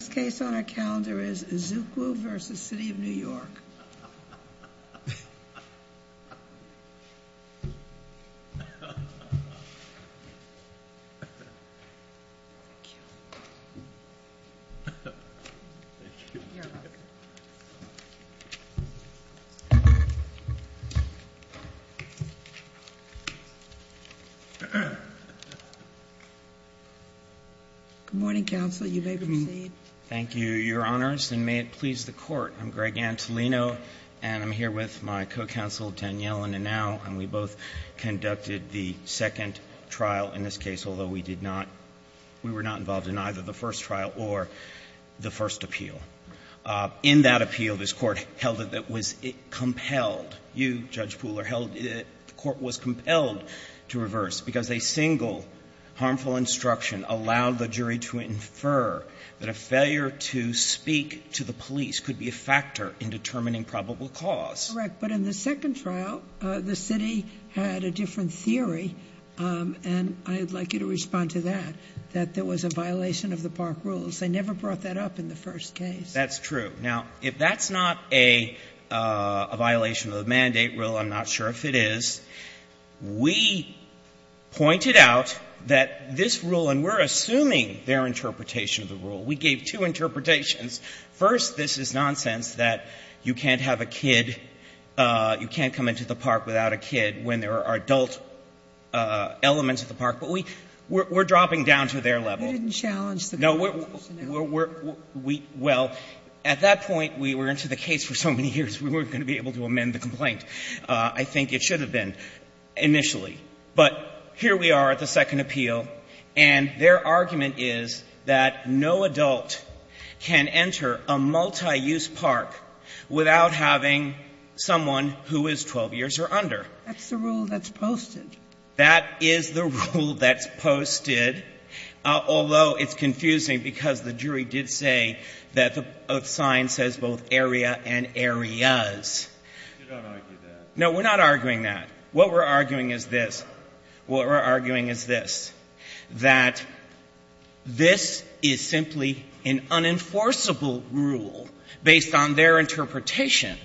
This case on our calendar is Izoukwu v. The City of New York. Good morning, counsel. You may proceed. Thank you, Your Honors, and may it please the Court. I'm Greg Antolino, and I'm here with my co-counsel, Danielle Inouye, and we both conducted the second trial in this case, although we did not — we were not involved in either the first trial or the first appeal. In that appeal, this Court held it that it was compelled — you, Judge Pooler, held the Court was compelled to reverse because a single harmful instruction allowed the jury to infer that a failure to speak to the police could be a factor in determining probable cause. Correct. But in the second trial, the City had a different theory, and I'd like you to respond to that, that there was a violation of the Park Rules. They never brought that up in the first case. That's true. Now, if that's not a violation of the mandate rule, I'm not sure if it is. We pointed out that this rule, and we're assuming their interpretation of the rule. We gave two interpretations. First, this is nonsense, that you can't have a kid — you can't come into the park without a kid when there are adult elements of the park. But we're dropping down to their level. You didn't challenge the complaint, did you? No, we're — well, at that point, we were into the case for so many years, we weren't going to be able to amend the complaint. I think it should have been initially. But here we are at the second appeal, and their argument is that no adult can enter a multi-use park without having someone who is 12 years or under. That's the rule that's posted. That is the rule that's posted, although it's confusing because the jury did say that the sign says both area and areas. You don't argue that. No, we're not arguing that. What we're arguing is this. What we're arguing is this, that this is simply an unenforceable rule based on their interpretation.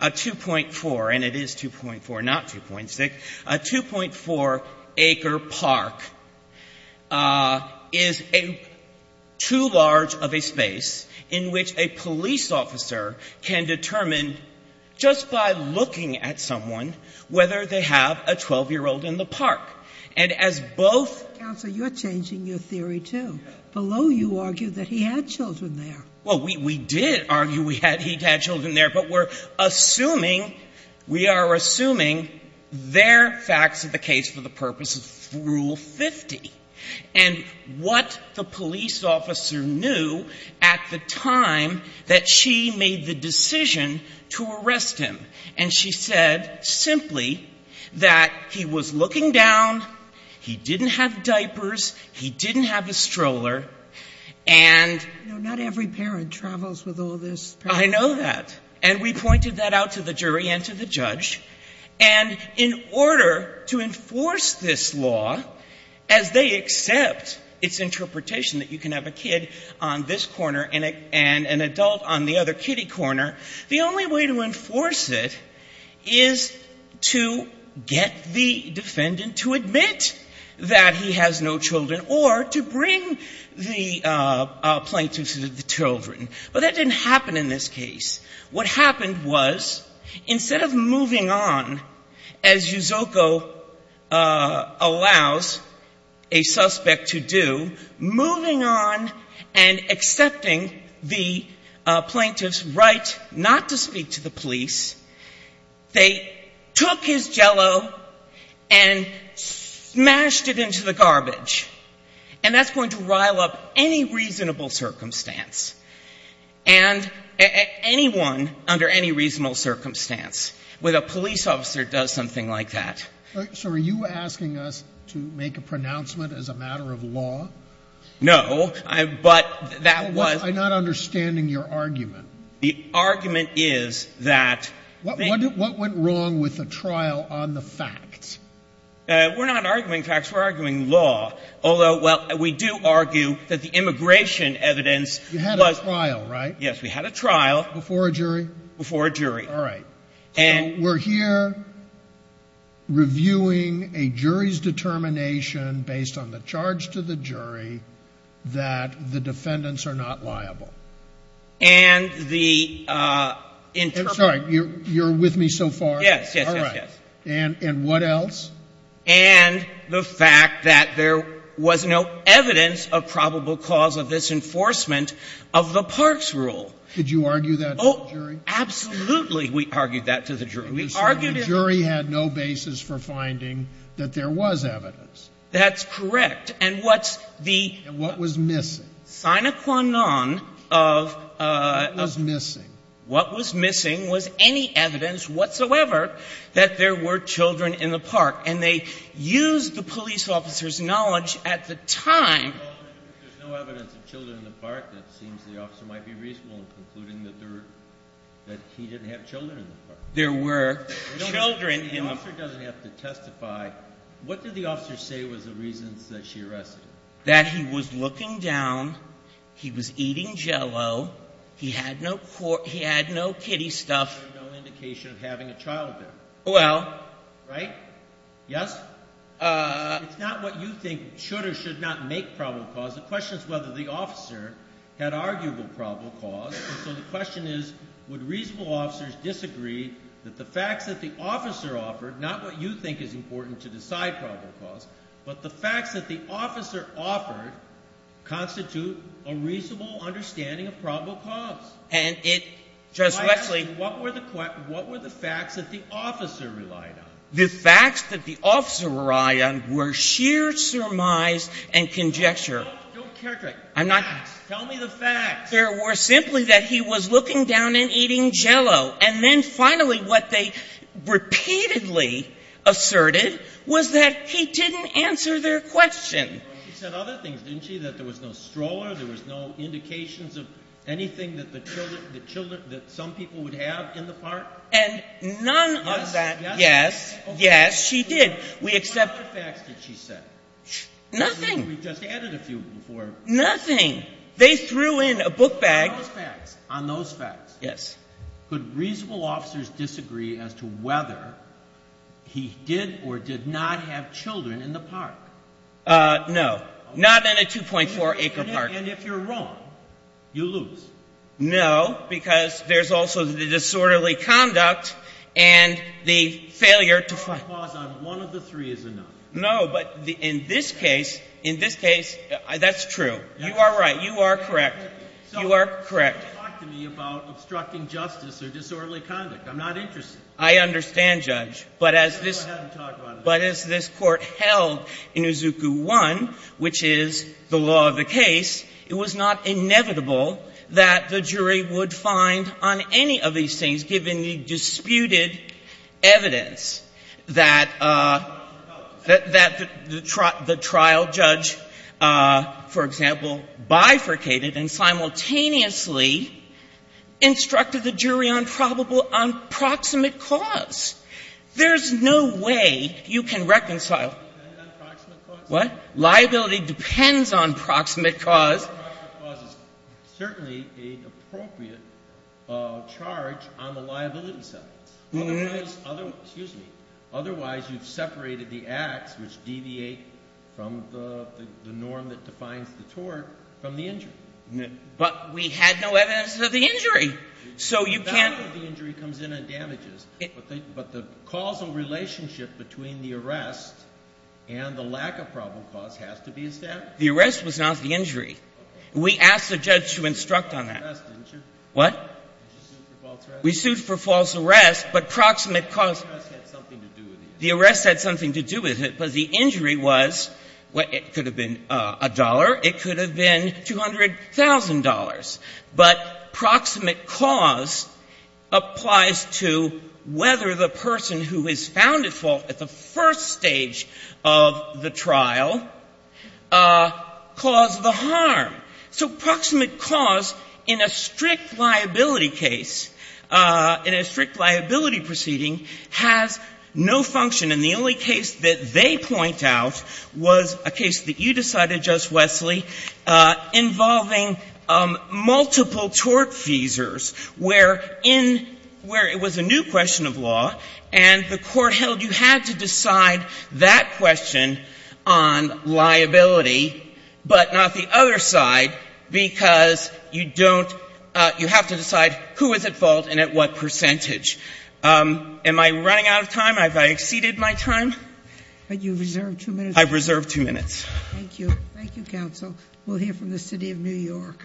A 2.4 — and it is 2.4, not 2.6 — a 2.4-acre park is too large of a space in which a police officer can determine, just by looking at someone, whether they have a 12-year-old in the park. And as both — Counsel, you're changing your theory, too. Below, you argue that he had children there. Well, we did argue he had children there, but we're assuming — we are assuming their facts of the case for the purpose of Rule 50. And what the police officer knew at the time that she made the decision to arrest him, and she said simply that he was looking down, he didn't have diapers, he didn't have a stroller, and — You know, not every parent travels with all this. I know that. And we pointed that out to the jury and to the judge. And in order to enforce this law, as they accept its interpretation that you can have a kid on this corner and an adult on the other kiddie corner, the only way to enforce it is to get the defendant to admit that he has no children, or to bring the plaintiff to the children. But that didn't happen in this case. What happened was, instead of moving on, as Yuzoko pointed out, allows a suspect to do, moving on and accepting the plaintiff's right not to speak to the police, they took his Jell-O and smashed it into the garbage. And that's going to rile up any reasonable circumstance. And anyone under any reasonable circumstance with a police officer does something like that. So are you asking us to make a pronouncement as a matter of law? No. But that was — I'm not understanding your argument. The argument is that — What went wrong with the trial on the facts? We're not arguing facts. We're arguing law. Although, well, we do argue that the immigration evidence was — You had a trial, right? Yes, we had a trial. Before a jury? Before a jury. All right. So we're here reviewing a jury's determination based on the charge to the jury that the defendants are not liable. And the — I'm sorry. You're with me so far? Yes, yes, yes, yes. All right. And what else? And the fact that there was no evidence of probable cause of disenforcement of the parks rule. Did you argue that in the jury? Absolutely, we argued that to the jury. We argued — So the jury had no basis for finding that there was evidence? That's correct. And what's the — And what was missing? Sinaquanon of — What was missing? What was missing was any evidence whatsoever that there were children in the park. And they used the police officer's knowledge at the time — Well, if there's no evidence of children in the park, that seems the officer might be reasonable in concluding that there — that he didn't have children in the park. There were children in — The officer doesn't have to testify. What did the officer say was the reasons that she arrested him? That he was looking down, he was eating Jell-O, he had no kitty stuff — There's no indication of having a child there. Well — Right? Yes? It's not what you think should or should not make probable cause. The question is whether the officer had arguable probable cause. And so the question is, would reasonable officers disagree that the facts that the officer offered, not what you think is important to decide probable cause, but the facts that the officer offered constitute a reasonable understanding of probable cause? And it — Justice Sotomayor — What were the facts that the officer relied on? The facts that the officer relied on were sheer surmise and conjecture. Don't characterize. Facts. Tell me the facts. There were simply that he was looking down and eating Jell-O. And then finally what they repeatedly asserted was that he didn't answer their question. She said other things, didn't she, that there was no stroller, there was no indications of anything that the children — the children — that some people would have in the park? And none of that — Yes? Yes? Yes. She did. We accept — What other facts did she say? Nothing. We just added a few before. Nothing. They threw in a book bag — On those facts — Yes. Could reasonable officers disagree as to whether he did or did not have children in the park? No. Not in a 2.4-acre park. And if you're wrong, you lose. No, because there's also the disorderly conduct and the failure to find — One of the three is enough. No, but in this case — in this case, that's true. You are right. You are correct. You are correct. You can't talk to me about obstructing justice or disorderly conduct. I'm not interested. I understand, Judge. But as this — Go ahead and talk about it. But as this Court held in Izuku 1, which is the law of the case, it was not inevitable that the jury would find on any of these things, given the disputed evidence, that the trial judge, for example, bifurcated and simultaneously instructed the jury on probable — on proximate cause. There's no way you can reconcile — Liability depends on proximate cause? What? Liability depends on proximate cause. Proximate cause is certainly an appropriate charge on the liability sentence. Otherwise — excuse me. Otherwise, you've separated the acts which deviate from the norm that defines the tort from the injury. But we had no evidence of the injury. So you can't — It's not that the injury comes in on damages. But the causal relationship between the arrest and the lack of probable cause has to be established. The arrest was not the injury. We asked the judge to instruct on that. You sued for false arrest, didn't you? What? You sued for false arrest? We sued for false arrest, but proximate cause — False arrest had something to do with the injury. The arrest had something to do with it, but the injury was — it could have been a dollar. It could have been $200,000. But proximate cause applies to whether the person who is found at fault at the first stage of the trial caused the harm. So proximate cause in a strict liability case, in a strict liability proceeding, has no function. And the only case that they point out was a case that you decided, Justice Wesley, involving multiple tort feasors, where in — where it was a new question of law, and the court held you had to decide that question on liability, but not the other side, because you don't — you have to decide who is at fault and at what percentage. Am I running out of time? Have I exceeded my time? You've reserved two minutes. I've reserved two minutes. Thank you. Thank you, counsel. We'll hear from the city of New York.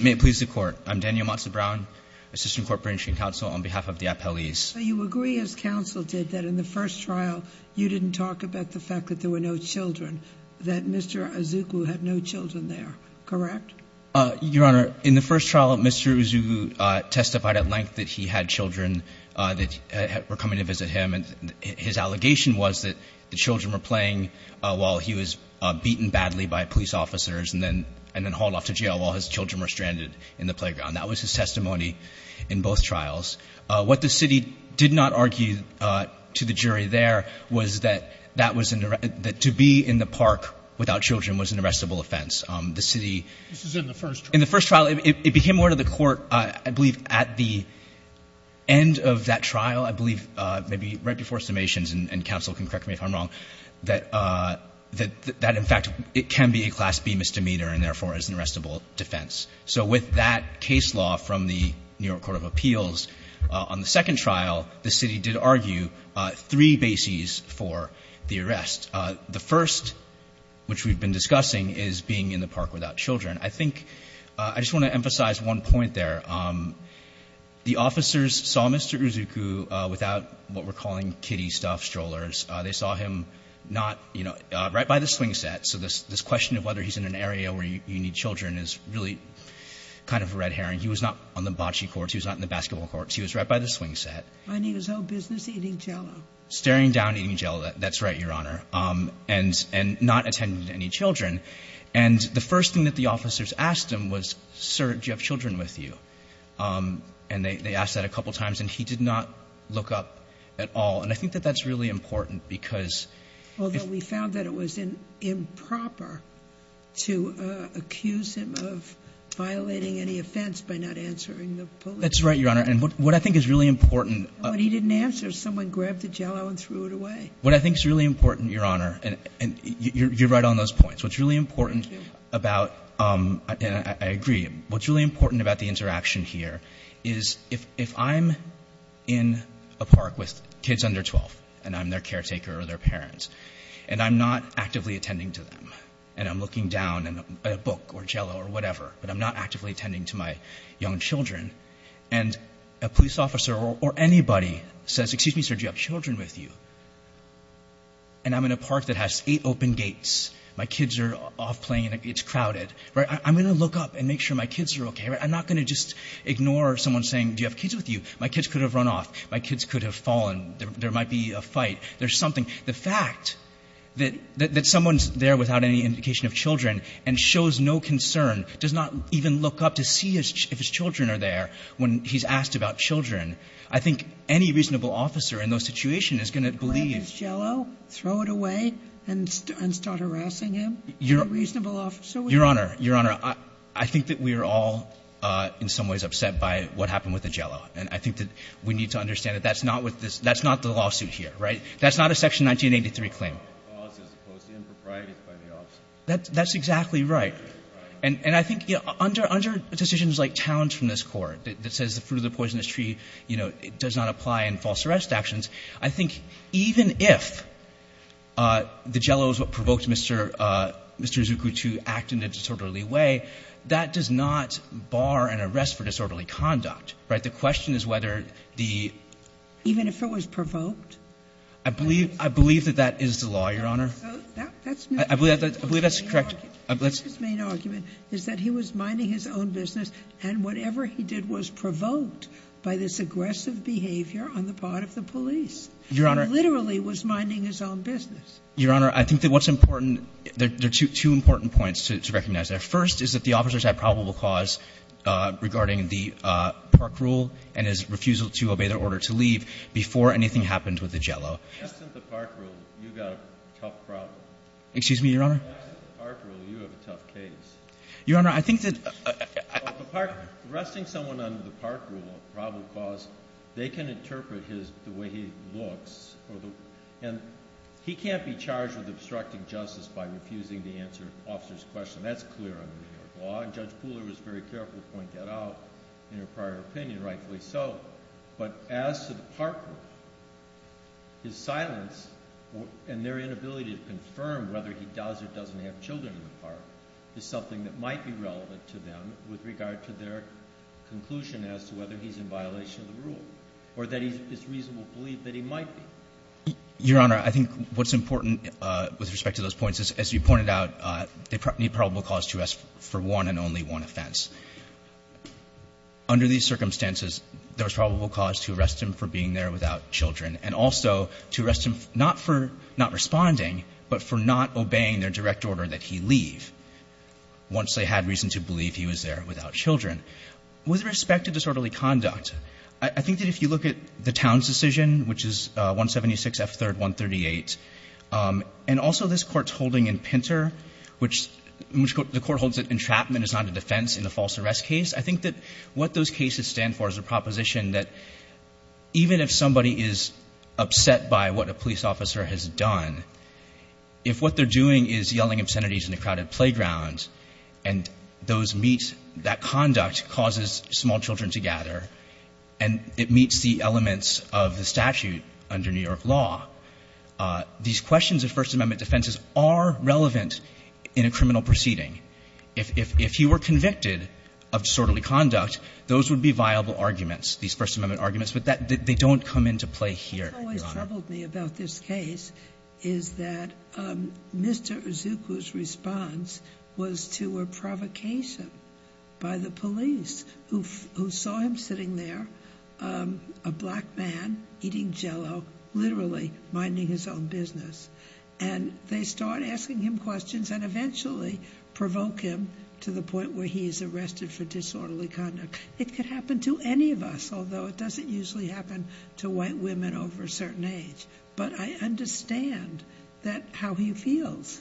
May it please the court. I'm Daniel Matza-Brown, assistant court branching counsel on behalf of the appellees. You agree, as counsel did, that in the first trial, you didn't talk about the fact that there were no children, that Mr. Izuku had no children there, correct? Your Honor, in the first trial, Mr. Izuku testified at length that he had children that were coming to visit him. And his allegation was that the children were playing while he was beaten badly by police officers and then hauled off to jail while his children were stranded in the playground. That was his testimony in both trials. What the city did not argue to the jury there was that that was — that to be in the park without children was an arrestable offense. The city — This is in the first trial. In the first trial, it became more to the court, I believe, at the end of that trial, I believe maybe right before summations, and counsel can correct me if I'm wrong, that in fact it can be a Class B misdemeanor and therefore is an arrestable defense. So with that case law from the New York Court of Appeals, on the second trial, the city did argue three bases for the arrest. The first, which we've been discussing, is being in the park without children. I think — I just want to emphasize one point there. The officers saw Mr. Izuku without what we're calling kiddie-stuff strollers. They saw him not — you know, right by the swing set. So this question of whether he's in an area where you need children is really kind of a red herring. He was not on the bocce courts. He was not in the basketball courts. He was right by the swing set. And he was no business eating Jell-O. Staring down eating Jell-O, that's right, Your Honor. And not attending to any children. And the first thing that the officers asked him was, Sir, do you have children with you? And they asked that a couple times, and he did not look up at all. And I think that that's really important because — Although we found that it was improper to accuse him of violating any offense by not answering the police. That's right, Your Honor. And what I think is really important — But he didn't answer. Someone grabbed the Jell-O and threw it away. What I think is really important, Your Honor — And you're right on those points. What's really important about — And I agree. What's really important about the interaction here is if I'm in a park with kids under 12, and I'm their caretaker or their parent, and I'm not actively attending to them, and I'm looking down at a book or Jell-O or whatever, but I'm not actively attending to my young children, and a police officer or anybody says, Excuse me, sir, do you have children with you? And I'm in a park that has eight open gates. My kids are off playing, and it's crowded. I'm going to look up and make sure my kids are okay. I'm not going to just ignore someone saying, Do you have kids with you? My kids could have run off. My kids could have fallen. There might be a fight. There's something — The fact that someone's there without any indication of children and shows no concern, does not even look up to see if his children are there when he's asked about children, I think any reasonable officer in those situations is going to believe — Grab his Jell-O, throw it away, and start harassing him? Your Honor, Your Honor, I think that we are all in some ways upset by what happened with the Jell-O. And I think that we need to understand that that's not what this — that's not the lawsuit here, right? That's not a Section 1983 claim. That's exactly right. And I think, you know, under decisions like Towns from this Court that says the fruit of the poisonous tree, you know, does not apply in false arrest actions, I think even if the Jell-O is what provoked Mr. Izuku to act in a disorderly way, that does not bar an arrest for disorderly conduct, right? The question is whether the — Even if it was provoked? I believe — I believe that that is the law, Your Honor. That's not — I believe that's correct. His main argument is that he was minding his own business, and whatever he did was provoked by this aggressive behavior on the part of the police. Your Honor — He literally was minding his own business. Your Honor, I think that what's important — there are two important points to recognize there. First is that the officers had probable cause regarding the park rule and his refusal to obey their order to leave before anything happened with the Jell-O. That's not the park rule. You've got a tough problem. Excuse me, Your Honor? As to the park rule, you have a tough case. Your Honor, I think that — Arresting someone under the park rule of probable cause, they can interpret his — the way he looks. And he can't be charged with obstructing justice by refusing to answer an officer's question. That's clear under New York law. And Judge Pooler was very careful to point that out in her prior opinion, rightfully so. But as to the park rule, his silence and their inability to confirm whether he does or doesn't have children in the park is something that might be relevant to them with regard to their conclusion as to whether he's in violation of the rule or that it's reasonable belief that he might be. Your Honor, I think what's important with respect to those points is, as you pointed out, they need probable cause to ask for one and only one offense. Under these circumstances, there's probable cause to arrest him for being there without children and also to arrest him not for not responding, but for not obeying their direct order that he leave once they had reason to believe he was there without children. With respect to disorderly conduct, I think that if you look at the town's decision, which is 176 F. 3rd. 138, and also this Court's holding in Pinter, which — entrapment is not a defense in the false arrest case. I think that what those cases stand for is a proposition that even if somebody is upset by what a police officer has done, if what they're doing is yelling obscenities in a crowded playground and those meet — that conduct causes small children to gather and it meets the elements of the statute under New York law, these questions of First Amendment defenses are relevant in a criminal proceeding. If he were convicted of disorderly conduct, those would be viable arguments, these First Amendment arguments, but they don't come into play here, Your Honor. What's always troubled me about this case is that Mr. Izuku's response was to a provocation by the police who saw him sitting there, a black man, eating Jell-O, literally minding his own business. And they start asking him questions and eventually provoke him to the point where he is arrested for disorderly conduct. It could happen to any of us, although it doesn't usually happen to white women over a certain age. But I understand that — how he feels.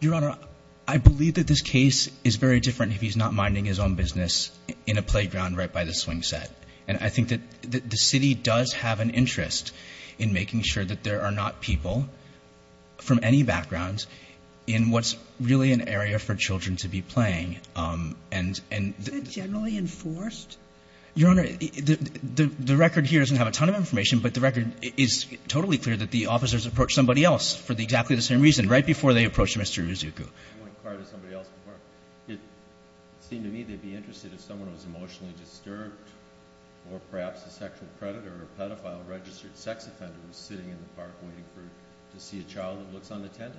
Your Honor, I believe that this case is very different if he's not minding his own business in a playground right by the swing set. And I think that the city does have an interest in making sure that there are not people from any background in what's really an area for children to be playing. Is that generally enforced? Your Honor, the record here doesn't have a ton of information, but the record is totally clear that the officers approached somebody else for exactly the same reason, right before they approached Mr. Izuku. It seemed to me they'd be interested if someone was emotionally disturbed or perhaps a sexual predator or a pedophile registered sex offender was sitting in the park waiting to see a child that looks unattended.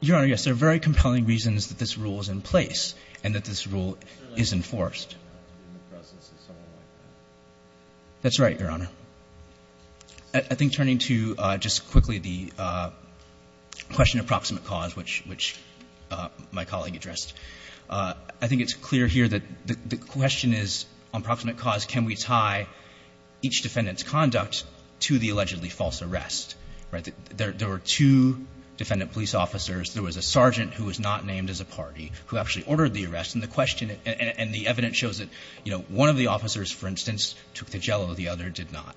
Your Honor, yes, there are very compelling reasons that this rule is in place and that this rule is enforced. In the presence of someone like that. That's right, Your Honor. I think turning to just quickly the question of proximate cause, which my colleague addressed, I think it's clear here that the question is on proximate cause, can we tie each defendant's conduct to the allegedly false arrest? There were two defendant police officers. There was a sergeant who was not named as a party who actually ordered the arrest. And the evidence shows that one of the officers, for instance, took the jello, the other did not.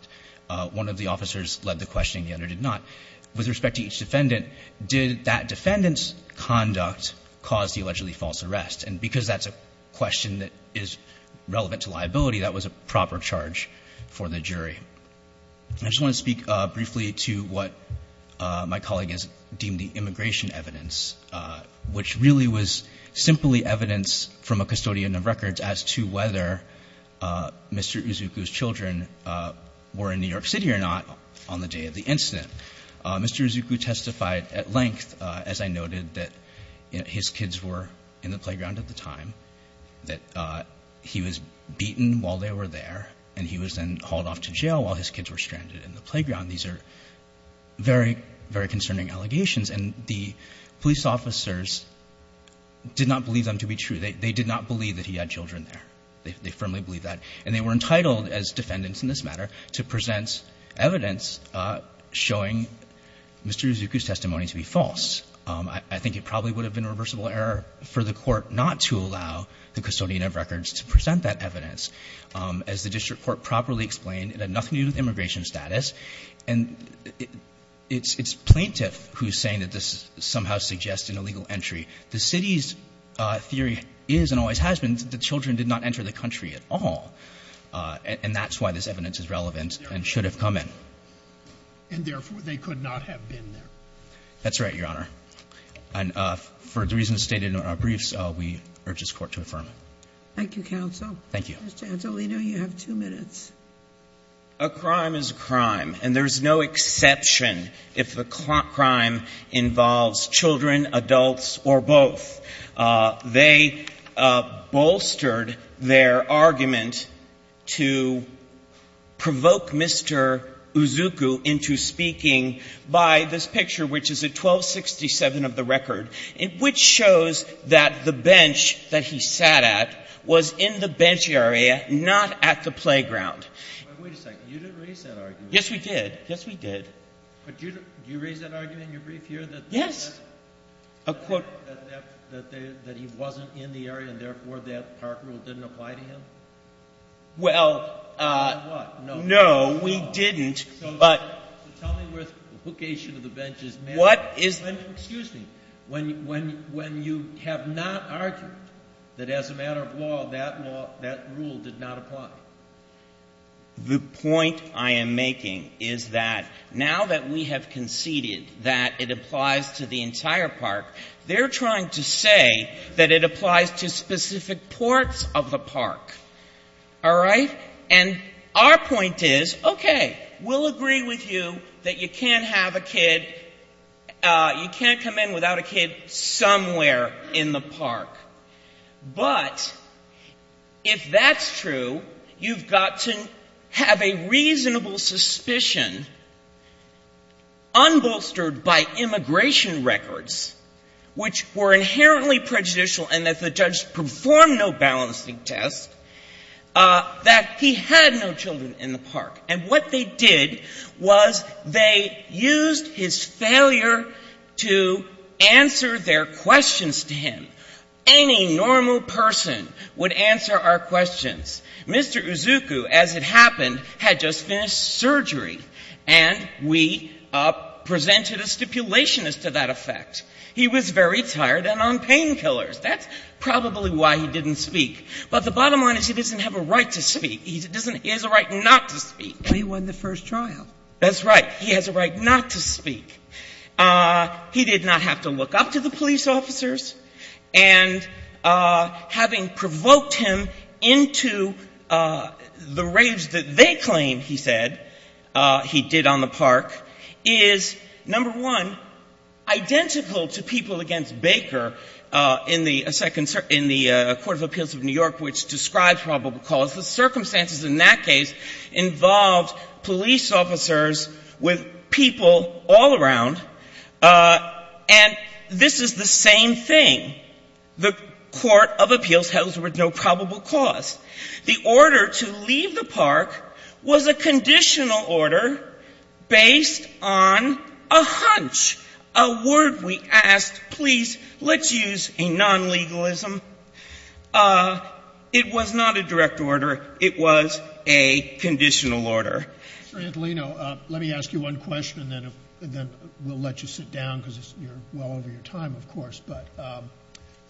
One of the officers led the questioning, the other did not. With respect to each defendant, did that defendant's conduct cause the allegedly false arrest? And because that's a question that is relevant to liability, that was a proper charge for the jury. I just want to speak briefly to what my colleague has deemed the immigration evidence, which really was simply evidence from a custodian of records as to whether Mr. Izuku's children were in New York City or not on the day of the incident. Mr. Izuku testified at length, as I noted, that his kids were in the playground at the time, that he was beaten while they were there, and he was then hauled off to jail while his kids were stranded in the playground. These are very, very concerning allegations. And the police officers did not believe them to be true. They did not believe that he had children there. They firmly believed that. And they were entitled, as defendants in this matter, to present evidence showing Mr. Izuku's testimony to be false. I think it probably would have been a reversible error for the court not to allow the custodian of records to present that evidence. As the district court properly explained, it had nothing to do with immigration status. And it's plaintiff who's saying that this somehow suggests an illegal entry. The city's theory is and always has been that the children did not enter the country at all. And that's why this evidence is relevant and should have come in. And therefore, they could not have been there. That's right, Your Honor. And for the reasons stated in our briefs, we urge this court to affirm. Thank you, counsel. Thank you. Mr. Antolino, you have two minutes. A crime is a crime, and there's no exception if the crime involves children, adults, or both. They bolstered their argument to provoke Mr. Izuku into speaking by this picture, which is at 1267 of the record, which shows that the bench that he sat at was in the bench area, not at the playground. Wait a second. You didn't raise that argument. Yes, we did. Yes, we did. But do you raise that argument in your brief here? Yes. A quote. That he wasn't in the area, and therefore, that park rule didn't apply to him? Well, no, we didn't. So tell me where the location of the bench is. Excuse me. When you have not argued that as a matter of law, that rule did not apply? The point I am making is that now that we have conceded that it applies to the entire park, they're trying to say that it applies to specific parts of the park. All right? And our point is, okay, we'll agree with you that you can't have a kid, you can't come in without a kid somewhere in the park. But if that's true, you've got to have a reasonable suspicion unbolstered by immigration records, which were inherently prejudicial and that the judge performed no balancing test, that he had no children in the park. And what they did was they used his failure to answer their questions to him. Any normal person would answer our questions. Mr. Uzuku, as it happened, had just finished surgery and we presented a stipulation as to that effect. He was very tired and on painkillers. That's probably why he didn't speak. But the bottom line is he doesn't have a right to speak. He has a right not to speak. But he won the first trial. That's right. He has a right not to speak. He did not have to look up to the police officers. And having provoked him into the rage that they claim, he said, he did on the park, is, number one, identical to people against Baker in the Court of Appeals of New York, which describes probable cause. The circumstances in that case involved police officers with people all around. And this is the same thing. The Court of Appeals held it was no probable cause. The order to leave the park was a conditional order based on a hunch, a word we asked. Please, let's use a non-legalism. It was not a direct order. It was a conditional order. Mr. Antolino, let me ask you one question, and then we'll let you sit down, because you're well over your time, of course. But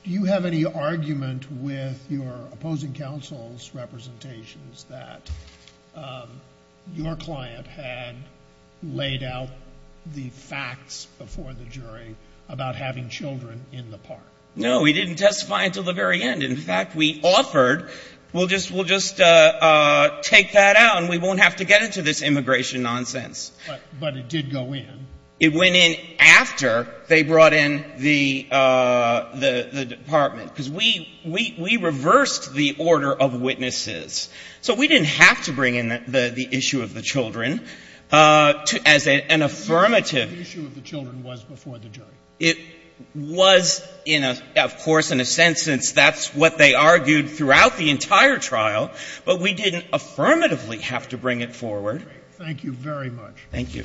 do you have any argument with your opposing counsel's representations that your client had laid out the facts before the jury about having children in the park? No, we didn't testify until the very end. In fact, we offered, we'll just take that out and we won't have to get into this immigration nonsense. But it did go in. It went in after they brought in the department, because we reversed the order of witnesses. So we didn't have to bring in the issue of the children as an affirmative. The issue of the children was before the jury. It was, of course, in a sense, since that's what they argued throughout the entire trial, but we didn't affirmatively have to bring it forward. Thank you very much.